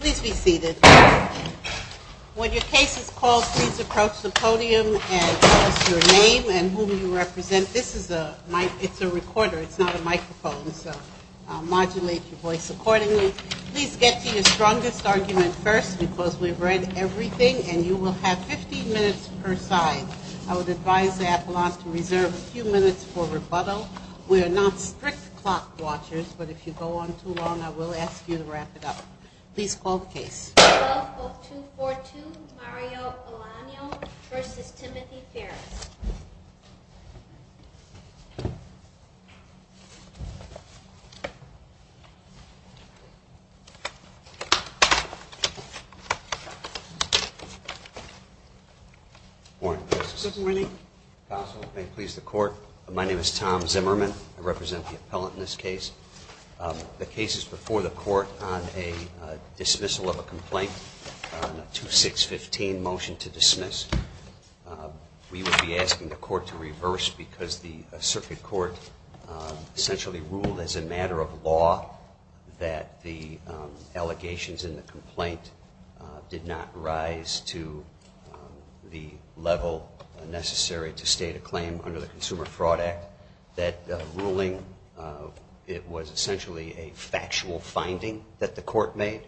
Please be seated. When your case is called, please approach the podium and tell us your name and whom you represent. This is a recorder, it's not a microphone, so I'll modulate your voice accordingly. Please get to your strongest argument first because we've read everything and you will have 15 minutes per side. I would advise the appellant to reserve a few minutes for rebuttal. We are not strict clock watchers, but if you go on too long, I will ask you to wrap it up. Please call the case. The court will now call 242 Mario Elano v. Timothy Ferriss. Good morning. My name is Tom Zimmerman. I represent the appellant in this case. The case is before the court on a dismissal of a complaint on a 2615 motion to dismiss. We would be asking the court to reverse because the circuit court essentially ruled as a matter of law that the allegations in the complaint did not rise to the level necessary to state a claim under the Consumer Fraud Act. It was essentially a factual finding that the court made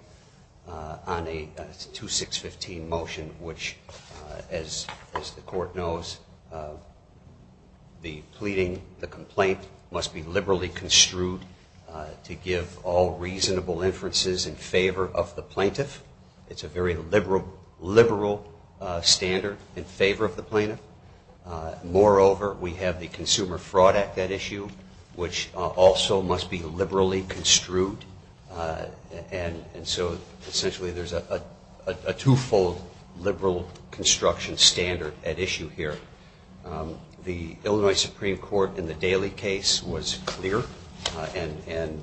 on a 2615 motion which, as the court knows, the pleading, the complaint must be liberally construed to give all reasonable inferences in favor of the plaintiff. It's a very liberal standard in favor of the plaintiff. Moreover, we have the Consumer Fraud Act at issue which also must be liberally construed and so essentially there's a two-fold liberal construction standard at issue here. The Illinois Supreme Court in the Daley case was clear and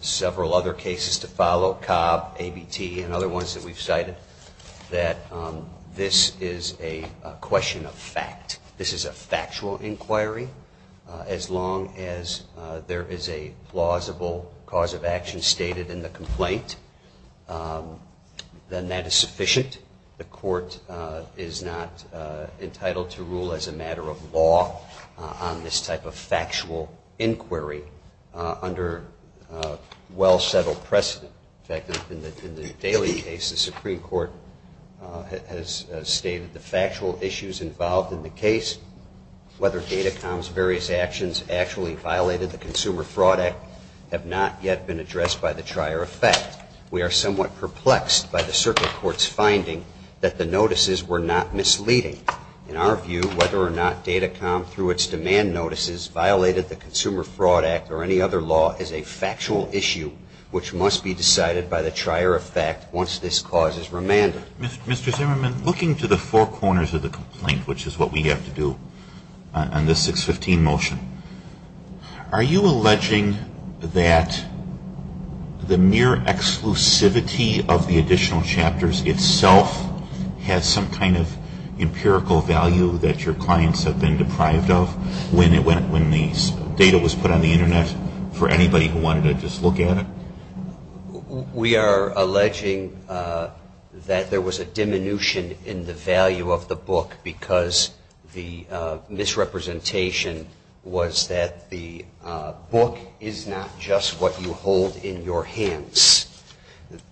several other cases to follow, Cobb, ABT, and other ones that we've cited, that this is a question of fact. This is a factual inquiry as long as there is a plausible cause of action stated in the complaint, then that is sufficient. The court is not entitled to rule as a matter of law on this type of factual inquiry under well-settled precedent. In fact, in the Daley case, the Supreme Court has stated the factual issues involved in the case, whether Datacom's various actions actually violated the Consumer Fraud Act, have not yet been addressed by the trier of fact. We are somewhat perplexed by the circuit court's finding that the notices were not misleading. In our view, whether or not Datacom, through its demand notices, violated the Consumer Fraud Act or any other law is a factual issue which must be decided by the trier of fact once this cause is remanded. Mr. Zimmerman, looking to the four corners of the complaint, which is what we have to do on this 615 motion, are you alleging that the mere exclusivity of the additional chapters itself has some kind of empirical value that your clients have been deprived of when the data was put on the Internet for anybody who wanted to just look at it? We are alleging that there was a diminution in the value of the book because the misrepresentation was that the book is not just what you hold in your hands,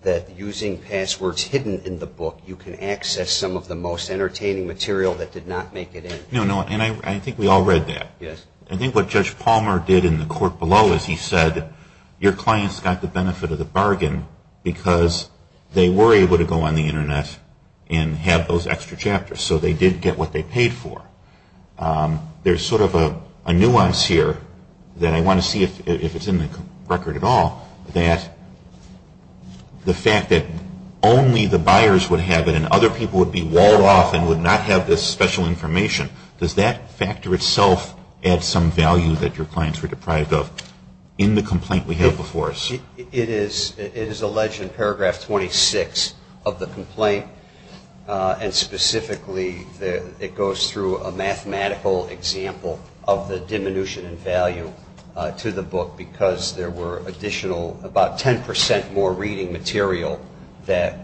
that using passwords hidden in the book you can access some of the most entertaining material that did not make it in. No, no. And I think we all read that. Yes. I think what Judge Palmer did in the court below is he said your clients got the benefit of the bargain because they were able to go on the Internet and have those extra chapters, so they did get what they paid for. There's sort of a nuance here that I want to see if it's in the record at all, that the fact that only the buyers would have it and other people would be walled off and would not have this special information, does that factor itself add some value that your clients were deprived of in the complaint we have before us? It is alleged in paragraph 26 of the complaint and specifically it goes through a mathematical example of the diminution in value to the book because there were additional, about 10% more reading material that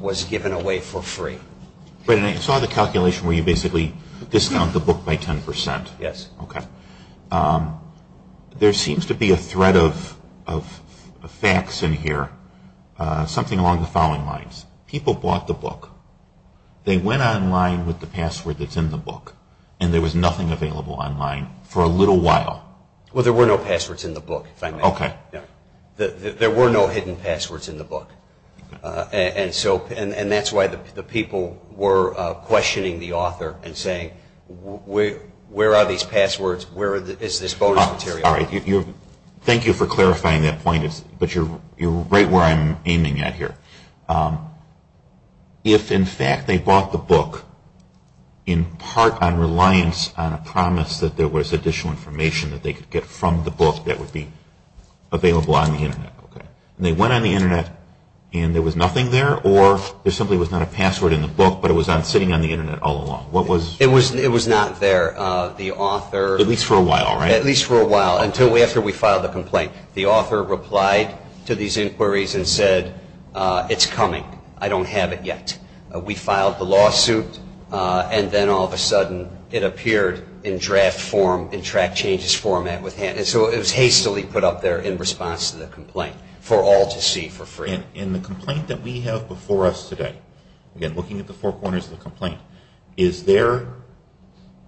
was given away for free. I saw the calculation where you basically discount the book by 10%. Yes. Okay. There seems to be a thread of facts in here, something along the following lines. People bought the book. They went online with the password that's in the book and there was nothing available online for a little while. Well, there were no passwords in the book. Okay. There were no hidden passwords in the book. And that's why the people were questioning the author and saying, where are these passwords? Where is this bonus material? All right. Thank you for clarifying that point, but you're right where I'm aiming at here. If, in fact, they bought the book in part on reliance on a promise that there was additional information that they could get from the book that would be available on the Internet. Okay. And they went on the Internet and there was nothing there? Or there simply was not a password in the book, but it was sitting on the Internet all along? What was? It was not there. The author. At least for a while, right? At least for a while, until after we filed the complaint. The author replied to these inquiries and said, it's coming. I don't have it yet. We filed the lawsuit and then all of a sudden it appeared in draft form in track changes format. And so it was hastily put up there in response to the complaint for all to see for free. In the complaint that we have before us today, again, looking at the four corners of the complaint, is there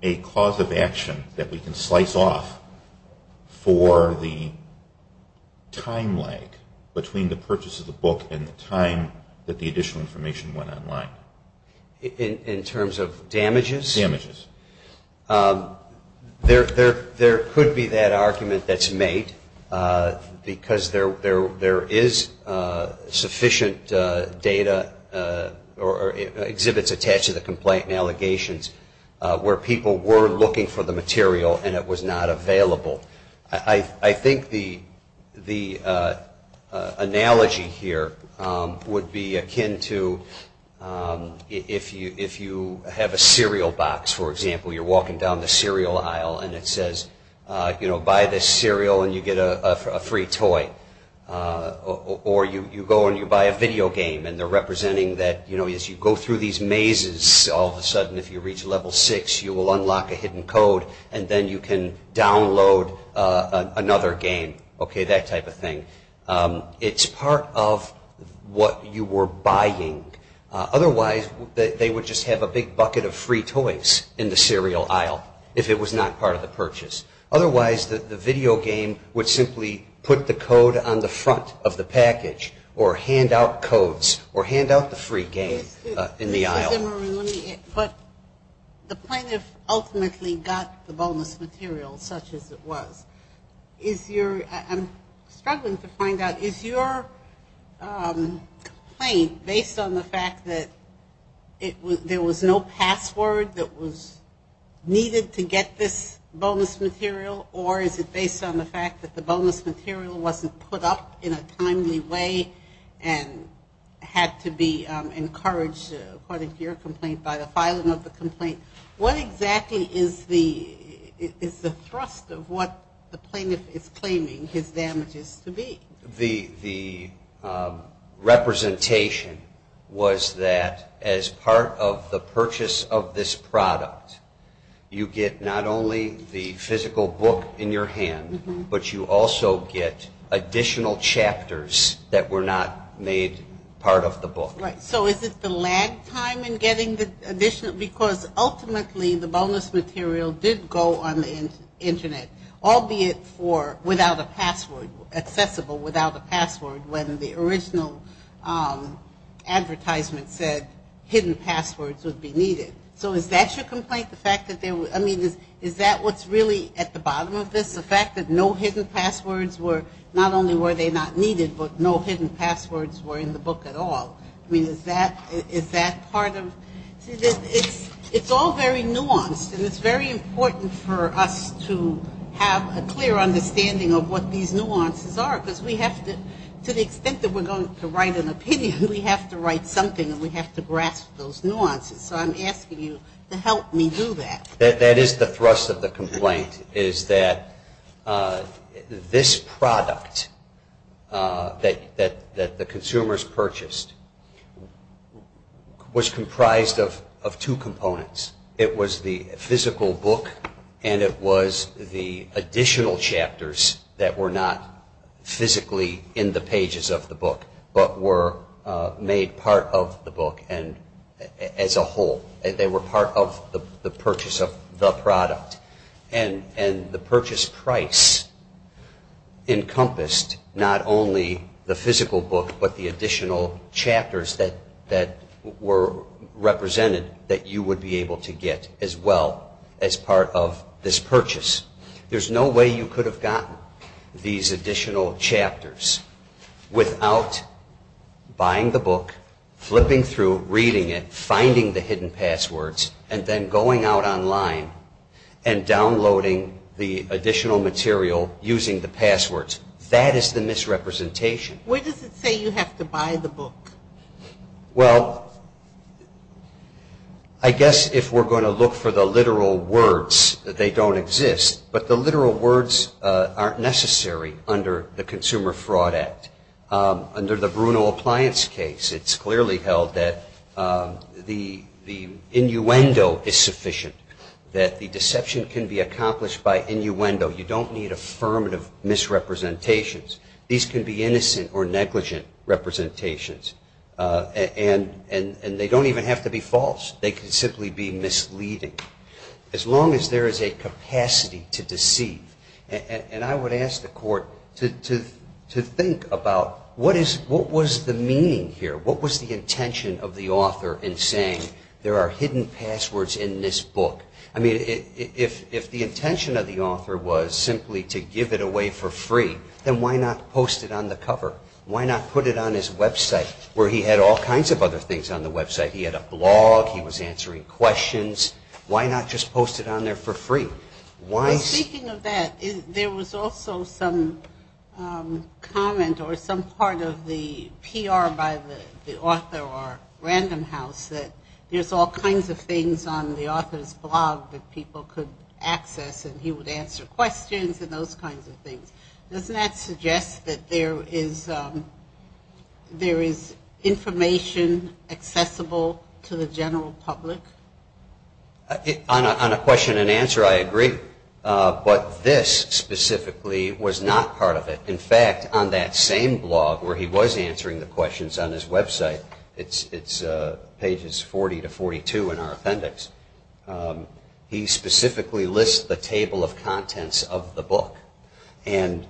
a cause of action that we can slice off for the time lag between the purchase of the book and the time that the additional information went online? In terms of damages? Damages. There could be that argument that's made because there is sufficient data or exhibits attached to the complaint and allegations where people were looking for the material and it was not available. I think the analogy here would be akin to if you have a cereal box, for example, you're walking down the cereal aisle and it says, buy this cereal and you get a free toy. Or you go and you buy a video game and they're representing that as you go through these mazes, all of a sudden, if you reach level six, you will unlock a hidden code and then you can download another game. Okay, that type of thing. It's part of what you were buying. Otherwise, they would just have a big bucket of free toys in the cereal aisle if it was not part of the purchase. Otherwise, the video game would simply put the code on the front of the package or hand out codes or hand out the free game in the aisle. Mr. Zimmerman, let me put, the plaintiff ultimately got the bonus material such as it was. I'm struggling to find out, is your complaint based on the fact that there was no password that was needed to get this bonus material or is it based on the fact that the bonus material wasn't put up in a timely way and had to be encouraged, according to your complaint, by the filing of the complaint? What exactly is the thrust of what the plaintiff is claiming his damages to be? The representation was that as part of the purchase of this product, you get not only the physical book in your hand, but you also get additional chapters that were not made part of the book. Right, so is it the lag time in getting the additional, because ultimately the bonus material did go on the Internet, albeit for without a password, accessible without a password, when the original advertisement said hidden passwords would be needed. So is that your complaint, the fact that there was, I mean, is that what's really at the bottom of this, the fact that no hidden passwords were not only were they not needed, but no hidden passwords were in the book at all? I mean, is that part of, it's all very nuanced, and it's very important for us to have a clear understanding of what these nuances are, because we have to, to the extent that we're going to write an opinion, we have to write something and we have to grasp those nuances. So I'm asking you to help me do that. That is the thrust of the complaint, is that this product that the consumers purchased was comprised of two components. It was the physical book and it was the additional chapters that were not physically in the pages of the book, but were made part of the book as a whole. They were part of the purchase of the product. And the purchase price encompassed not only the physical book, but the additional chapters that were represented that you would be able to get as well as part of this purchase. There's no way you could have gotten these additional chapters without buying the book, flipping through, reading it, finding the hidden passwords, and then going out online and downloading the additional material using the passwords. That is the misrepresentation. Where does it say you have to buy the book? Well, I guess if we're going to look for the literal words, they don't exist. But the literal words aren't necessary under the Consumer Fraud Act. Under the Bruno Appliance case, it's clearly held that the innuendo is sufficient, that the deception can be accomplished by innuendo. You don't need affirmative misrepresentations. These can be innocent or negligent representations. And they don't even have to be false. They can simply be misleading. As long as there is a capacity to deceive. And I would ask the Court to think about what was the meaning here? What was the intention of the author in saying there are hidden passwords in this book? I mean, if the intention of the author was simply to give it away for free, then why not post it on the cover? Why not put it on his website where he had all kinds of other things on the website? He had a blog. He was answering questions. Why not just post it on there for free? Speaking of that, there was also some comment or some part of the PR by the author or Random House that there's all kinds of things on the author's blog that people could access and he would answer questions and those kinds of things. Doesn't that suggest that there is information accessible to the general public? On a question and answer, I agree. But this specifically was not part of it. In fact, on that same blog where he was answering the questions on his website, it's pages 40 to 42 in our appendix, he specifically lists the table of contents of the book. And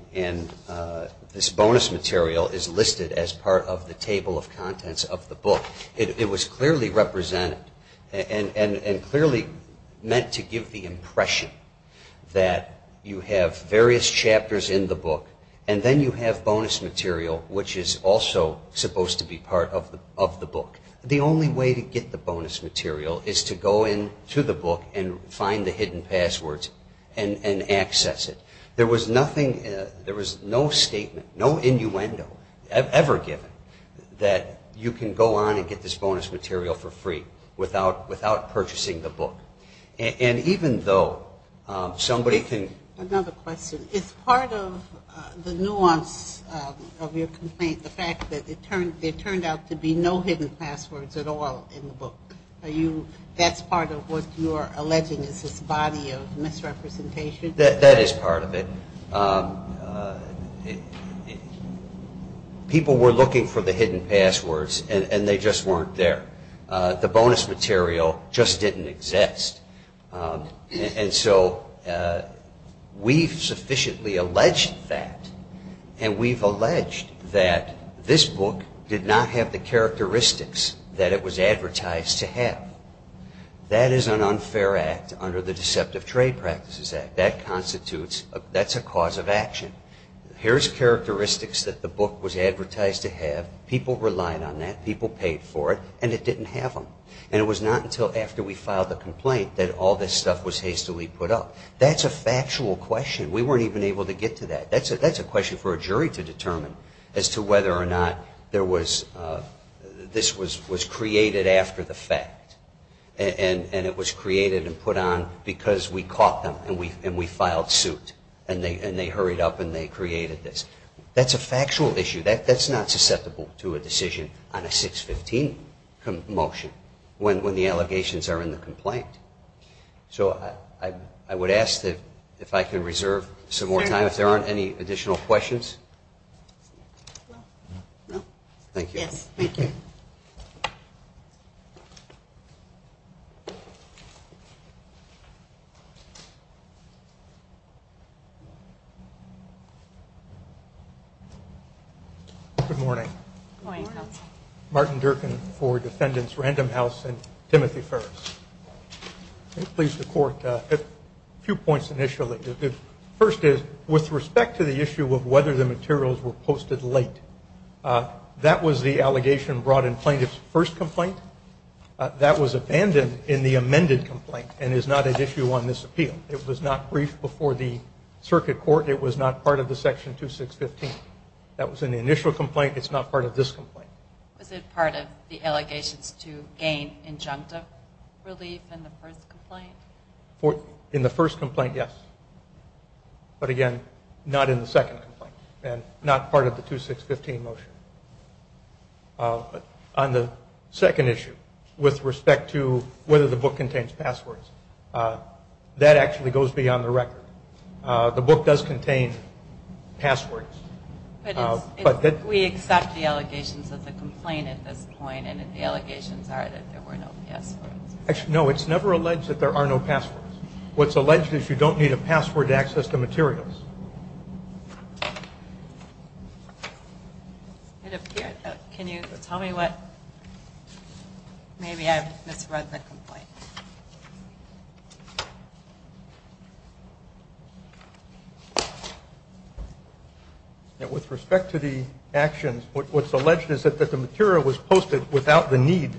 this bonus material is listed as part of the table of contents of the book. It was clearly represented and clearly meant to give the impression that you have various chapters in the book and then you have bonus material, which is also supposed to be part of the book. The only way to get the bonus material is to go into the book and find the hidden passwords and access it. There was no statement, no innuendo ever given that you can go on and get this bonus material for free without purchasing the book. Another question. Is part of the nuance of your complaint the fact that there turned out to be no hidden passwords at all in the book? That's part of what you're alleging is this body of misrepresentation? That is part of it. People were looking for the hidden passwords and they just weren't there. The bonus material just didn't exist. And so we've sufficiently alleged that. And we've alleged that this book did not have the characteristics that it was advertised to have. That is an unfair act under the Deceptive Trade Practices Act. That's a cause of action. Here's characteristics that the book was advertised to have. People relied on that. People paid for it. And it didn't have them. And it was not until after we filed the complaint that all this stuff was hastily put up. That's a factual question. We weren't even able to get to that. That's a question for a jury to determine as to whether or not this was created after the fact. And it was created and put on because we caught them and we filed suit. And they hurried up and they created this. That's a factual issue. That's not susceptible to a decision on a 615 motion when the allegations are in the complaint. So I would ask if I could reserve some more time if there aren't any additional questions. No. Thank you. Yes, thank you. Good morning. Good morning, Counsel. Martin Durkin for Defendants Random House and Timothy Ferris. Please, the Court, a few points initially. First is, with respect to the issue of whether the materials were posted late, that was the allegation brought in Plaintiff's first complaint. That was abandoned in the amended complaint and is not at issue on this appeal. It was not briefed before the Circuit Court. It was not part of the Section 2615. That was in the initial complaint. I think it's not part of this complaint. Was it part of the allegations to gain injunctive relief in the first complaint? In the first complaint, yes. But, again, not in the second complaint and not part of the 2615 motion. On the second issue, with respect to whether the book contains passwords, that actually goes beyond the record. The book does contain passwords. We accept the allegations of the complaint at this point and the allegations are that there were no passwords. No, it's never alleged that there are no passwords. What's alleged is you don't need a password to access the materials. Can you tell me what? Maybe I've misread the complaint. With respect to the actions, what's alleged is that the material was posted without the need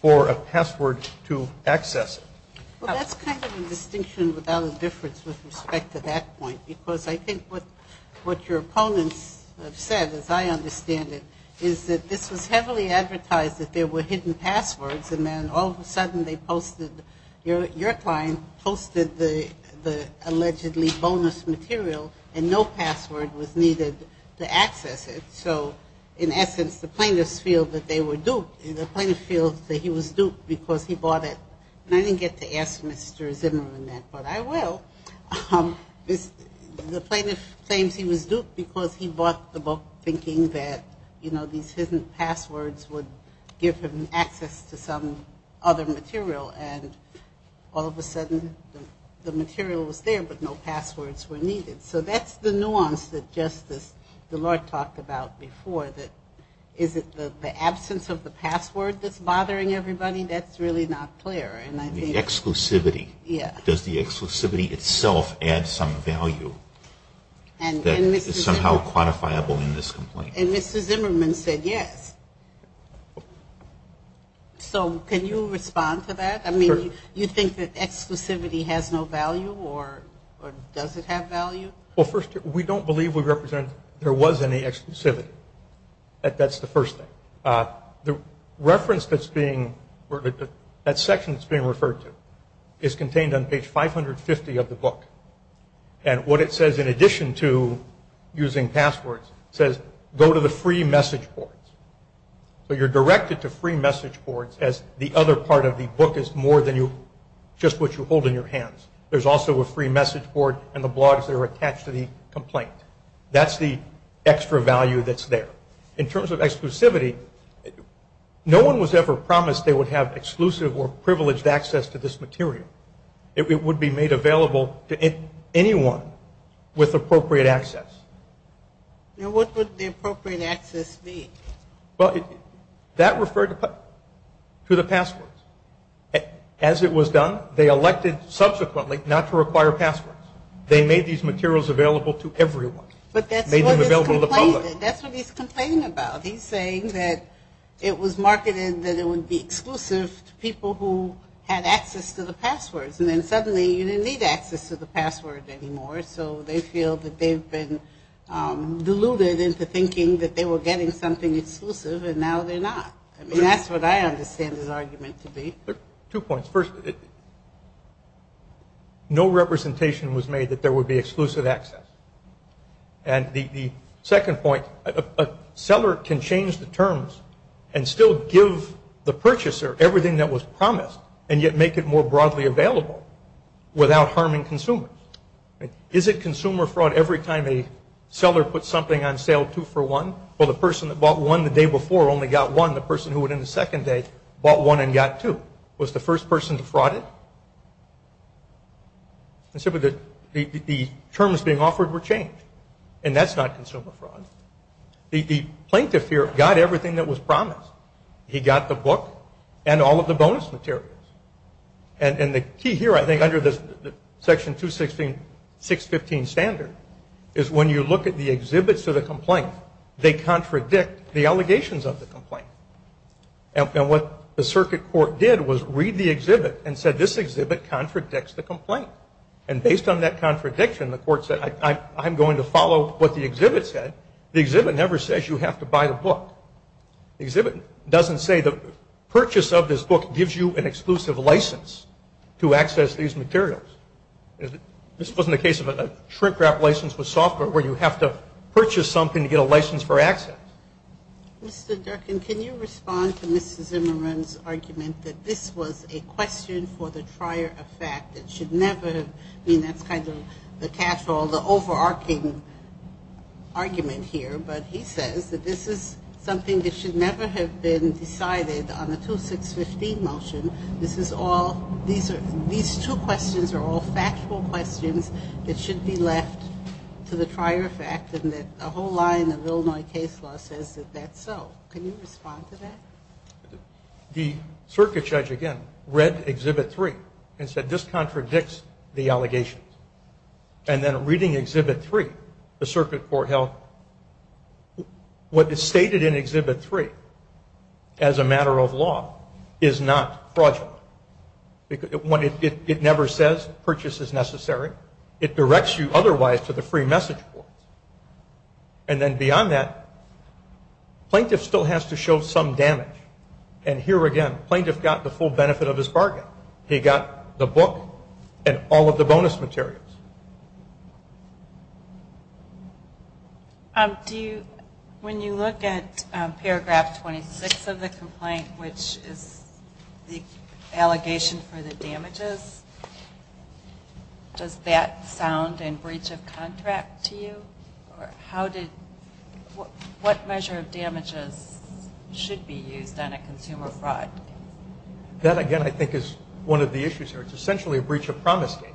for a password to access it. Well, that's kind of a distinction without a difference with respect to that point because I think what your opponents have said, as I understand it, is that this was heavily advertised that there were hidden passwords and then all of a sudden your client posted the allegedly bonus material and no password was needed to access it. So, in essence, the plaintiffs feel that they were duped. The plaintiff feels that he was duped because he bought it. And I didn't get to ask Mr. Zimmerman that, but I will. The plaintiff claims he was duped because he bought the book thinking that, you know, these hidden passwords would give him access to some other material and all of a sudden the material was there but no passwords were needed. So that's the nuance that Justice DeLorte talked about before, that is it the absence of the password that's bothering everybody? That's really not clear. The exclusivity. Yeah. Does the exclusivity itself add some value that is somehow quantifiable in this complaint? And Mr. Zimmerman said yes. So can you respond to that? I mean, you think that exclusivity has no value or does it have value? Well, first, we don't believe we represent there was any exclusivity. That's the first thing. The reference that's being, that section that's being referred to, is contained on page 550 of the book. And what it says in addition to using passwords says go to the free message boards. So you're directed to free message boards as the other part of the book is more than you, just what you hold in your hands. There's also a free message board and the blogs that are attached to the complaint. That's the extra value that's there. In terms of exclusivity, no one was ever promised they would have exclusive or privileged access to this material. It would be made available to anyone with appropriate access. And what would the appropriate access be? Well, that referred to the passwords. As it was done, they elected subsequently not to require passwords. They made these materials available to everyone. Made them available to the public. But that's what he's complaining about. He's saying that it was marketed that it would be exclusive to people who had access to the passwords and then suddenly you didn't need access to the password anymore. So they feel that they've been deluded into thinking that they were getting something exclusive and now they're not. I mean, that's what I understand his argument to be. Two points. First, no representation was made that there would be exclusive access. And the second point, a seller can change the terms and still give the purchaser everything that was promised and yet make it more broadly available without harming consumers. Is it consumer fraud every time a seller puts something on sale two for one? Well, the person that bought one the day before only got one. The person who went in the second day bought one and got two. Was the first person defrauded? The terms being offered were changed. And that's not consumer fraud. The plaintiff here got everything that was promised. He got the book and all of the bonus materials. And the key here, I think, under the Section 216, 615 standard, is when you look at the exhibits of the complaint, they contradict the allegations of the complaint. And what the circuit court did was read the exhibit and said, this exhibit contradicts the complaint. And based on that contradiction, the court said, I'm going to follow what the exhibit said. The exhibit never says you have to buy the book. The exhibit doesn't say the purchase of this book gives you an exclusive license to access these materials. This wasn't a case of a shrink-wrap license with software where you have to purchase something to get a license for access. Mr. Durkin, can you respond to Mrs. Zimmerman's argument that this was a question for the trier of fact? It should never have been. That's kind of the catch-all, the overarching argument here. But he says that this is something that should never have been decided on the 2615 motion. This is all these two questions are all factual questions that should be left to the trier of fact and that a whole line of Illinois case law says that that's so. Can you respond to that? The circuit judge, again, read Exhibit 3 and said this contradicts the allegations. And then reading Exhibit 3, the circuit court held what is stated in Exhibit 3 as a matter of law is not fraudulent. It never says purchase is necessary. It directs you otherwise to the free message board. And then beyond that, plaintiff still has to show some damage. And here again, plaintiff got the full benefit of his bargain. He got the book and all of the bonus materials. When you look at Paragraph 26 of the complaint, which is the allegation for the damages, does that sound in breach of contract to you? What measure of damages should be used on a consumer fraud? That, again, I think is one of the issues here. It's essentially a breach of promise case,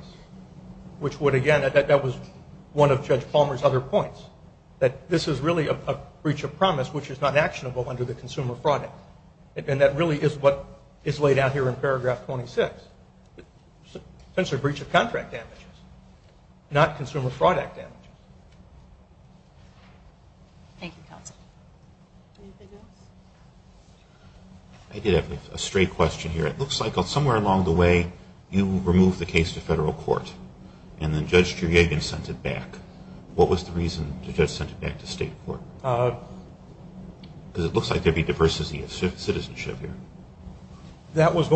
which would, again, that was one of Judge Palmer's other points, that this is really a breach of promise, which is not actionable under the consumer fraud act. And that really is what is laid out here in Paragraph 26. It's essentially a breach of contract damages, not consumer fraud act damages. Thank you, counsel. Anything else? I did have a stray question here. It looks like somewhere along the way you removed the case to federal court and then Judge Juriagin sent it back. What was the reason the judge sent it back to state court? Because it looks like there'd be diversity of citizenship here. That was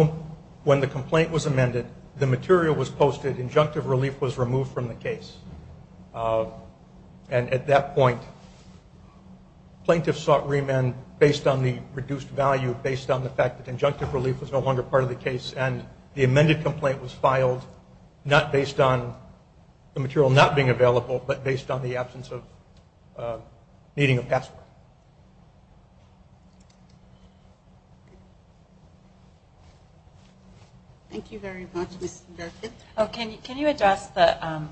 when the complaint was amended. The material was posted. Injunctive relief was removed from the case. And at that point, plaintiffs sought remand based on the reduced value, based on the fact that injunctive relief was no longer part of the case, and the amended complaint was filed not based on the material not being available, but based on the absence of needing a passport. Thank you very much. Can you address the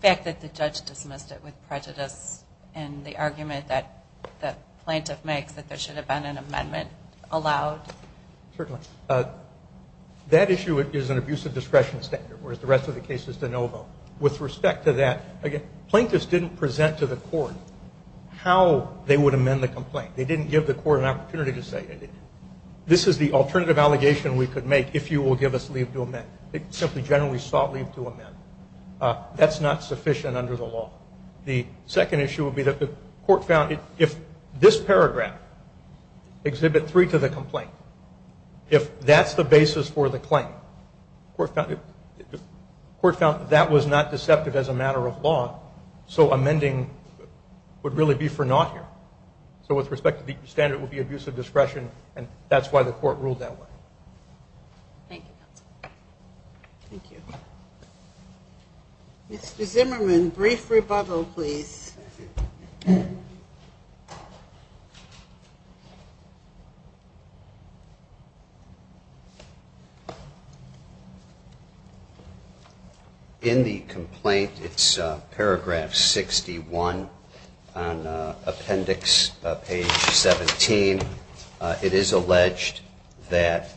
fact that the judge dismissed it with prejudice and the argument that the plaintiff makes that there should have been an amendment allowed? Certainly. That issue is an abusive discretion standard, whereas the rest of the case is de novo. With respect to that, again, plaintiffs didn't present to the court how they would amend the complaint. They didn't give the court an opportunity to say this is the alternative allegation we could make if you will give us leave to amend. They simply generally sought leave to amend. That's not sufficient under the law. The second issue would be that the court found if this paragraph, Exhibit 3 to the complaint, if that's the basis for the claim, the court found that that was not deceptive as a matter of law, so amending would really be for naught here. So with respect to the standard, it would be abusive discretion, and that's why the court ruled that way. Thank you, counsel. Thank you. Mr. Zimmerman, brief rebuttal, please. In the complaint, it's paragraph 61 on appendix page 17. It is alleged that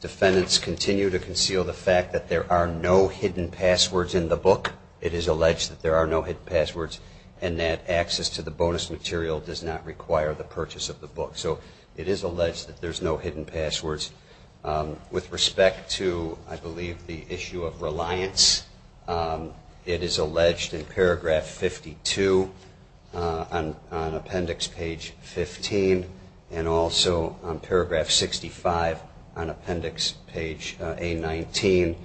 defendants continue to conceal the fact that there are no hidden passwords in the book. It is alleged that there are no hidden passwords and that access to the bonus material does not require the purchase of the book. So it is alleged that there's no hidden passwords. With respect to, I believe, the issue of reliance, it is alleged in paragraph 52 on appendix page 15 and also on paragraph 65 on appendix page A19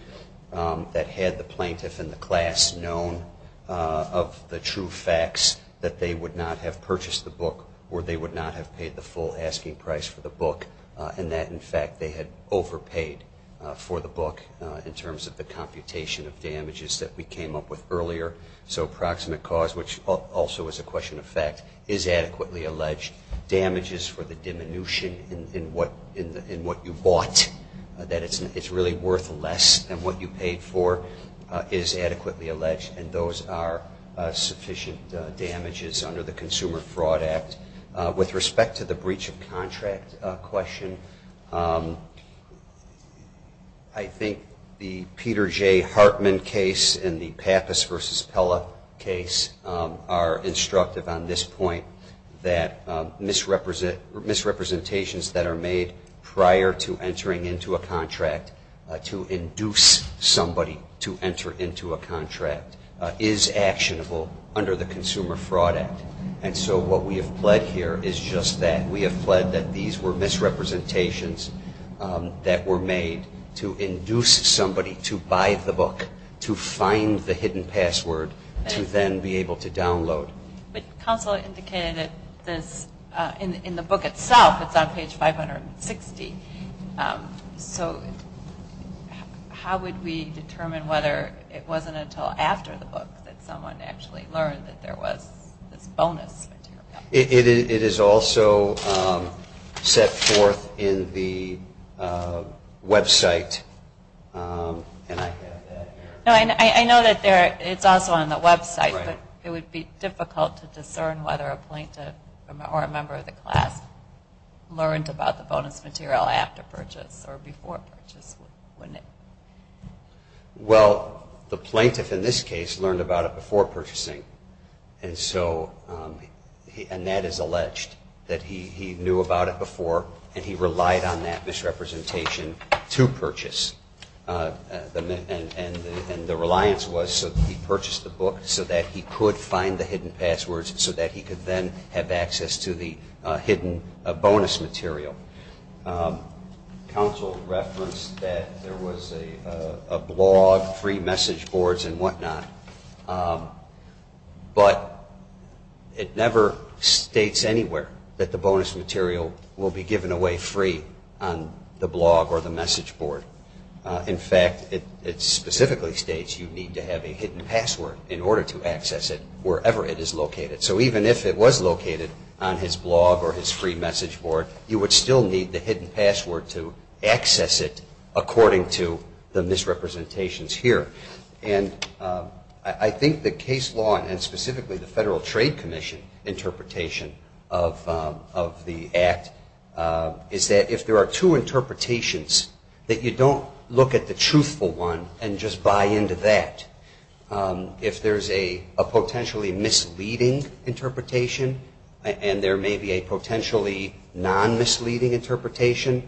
that had the plaintiff and the class known of the true facts that they would not have purchased the book or they would not have paid the full asking price for the book and that, in fact, they had overpaid for the book in terms of the computation of damages that we came up with earlier. So approximate cause, which also is a question of fact, is adequately alleged. Damages for the diminution in what you bought, that it's really worth less than what you paid for, is adequately alleged, and those are sufficient damages under the Consumer Fraud Act. With respect to the breach of contract question, I think the Peter J. Hartman case and the Pappas v. Pella case are instructive on this point that misrepresentations that are made prior to entering into a contract to induce somebody to enter into a contract is actionable under the Consumer Fraud Act. And so what we have pled here is just that. We have pled that these were misrepresentations that were made to induce somebody to buy the book, to find the hidden password, to then be able to download. But counsel indicated that in the book itself, it's on page 560, so how would we determine whether it wasn't until after the book that someone actually learned that there was this bonus material? It is also set forth in the website. I know that it's also on the website, but it would be difficult to discern whether a plaintiff or a member of the class learned about the bonus material after purchase or before purchase, wouldn't it? Well, the plaintiff in this case learned about it before purchasing, and that is alleged, that he knew about it before and he relied on that misrepresentation to purchase. And the reliance was so that he purchased the book so that he could find the hidden passwords so that he could then have access to the hidden bonus material. Counsel referenced that there was a blog, free message boards and whatnot, but it never states anywhere that the bonus material will be given away free on the blog or the message board. In fact, it specifically states you need to have a hidden password in order to access it wherever it is located. So even if it was located on his blog or his free message board, you would still need the hidden password to access it according to the misrepresentations here. And I think the case law and specifically the Federal Trade Commission interpretation of the Act is that if there are two interpretations that you don't look at the truthful one and just buy into that, if there's a potentially misleading interpretation and there may be a potentially non-misleading interpretation,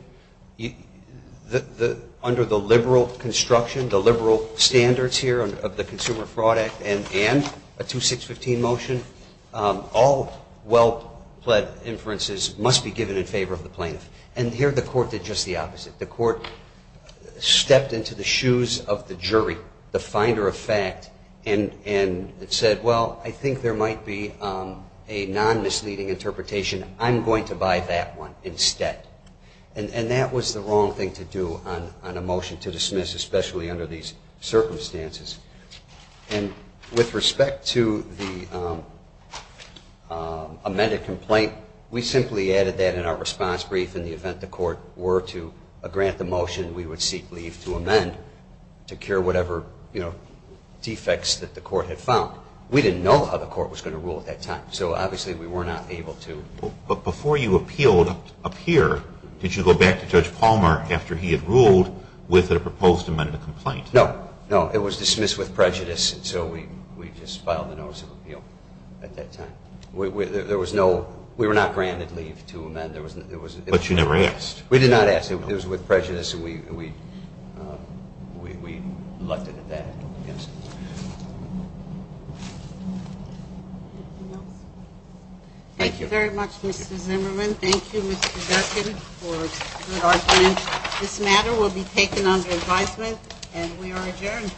under the liberal construction, the liberal standards here of the Consumer Fraud Act and a 2615 motion, all well-pled inferences must be given in favor of the plaintiff. And here the court did just the opposite. The court stepped into the shoes of the jury, the finder of fact, and said, well, I think there might be a non-misleading interpretation. I'm going to buy that one instead. And that was the wrong thing to do on a motion to dismiss, especially under these circumstances. And with respect to the amended complaint, we simply added that in our response brief in the event the court were to grant the motion, we would seek leave to amend, to cure whatever defects that the court had found. We didn't know how the court was going to rule at that time, so obviously we were not able to. But before you appealed up here, did you go back to Judge Palmer after he had ruled with a proposed amended complaint? No. No, it was dismissed with prejudice, and so we just filed a notice of appeal at that time. There was no, we were not granted leave to amend. But you never asked. We did not ask. It was with prejudice, and we left it at that. Anything else? Thank you. Thank you very much, Mr. Zimmerman. Thank you, Mr. Durkin, for a good argument. This matter will be taken under advisement, and we are adjourned.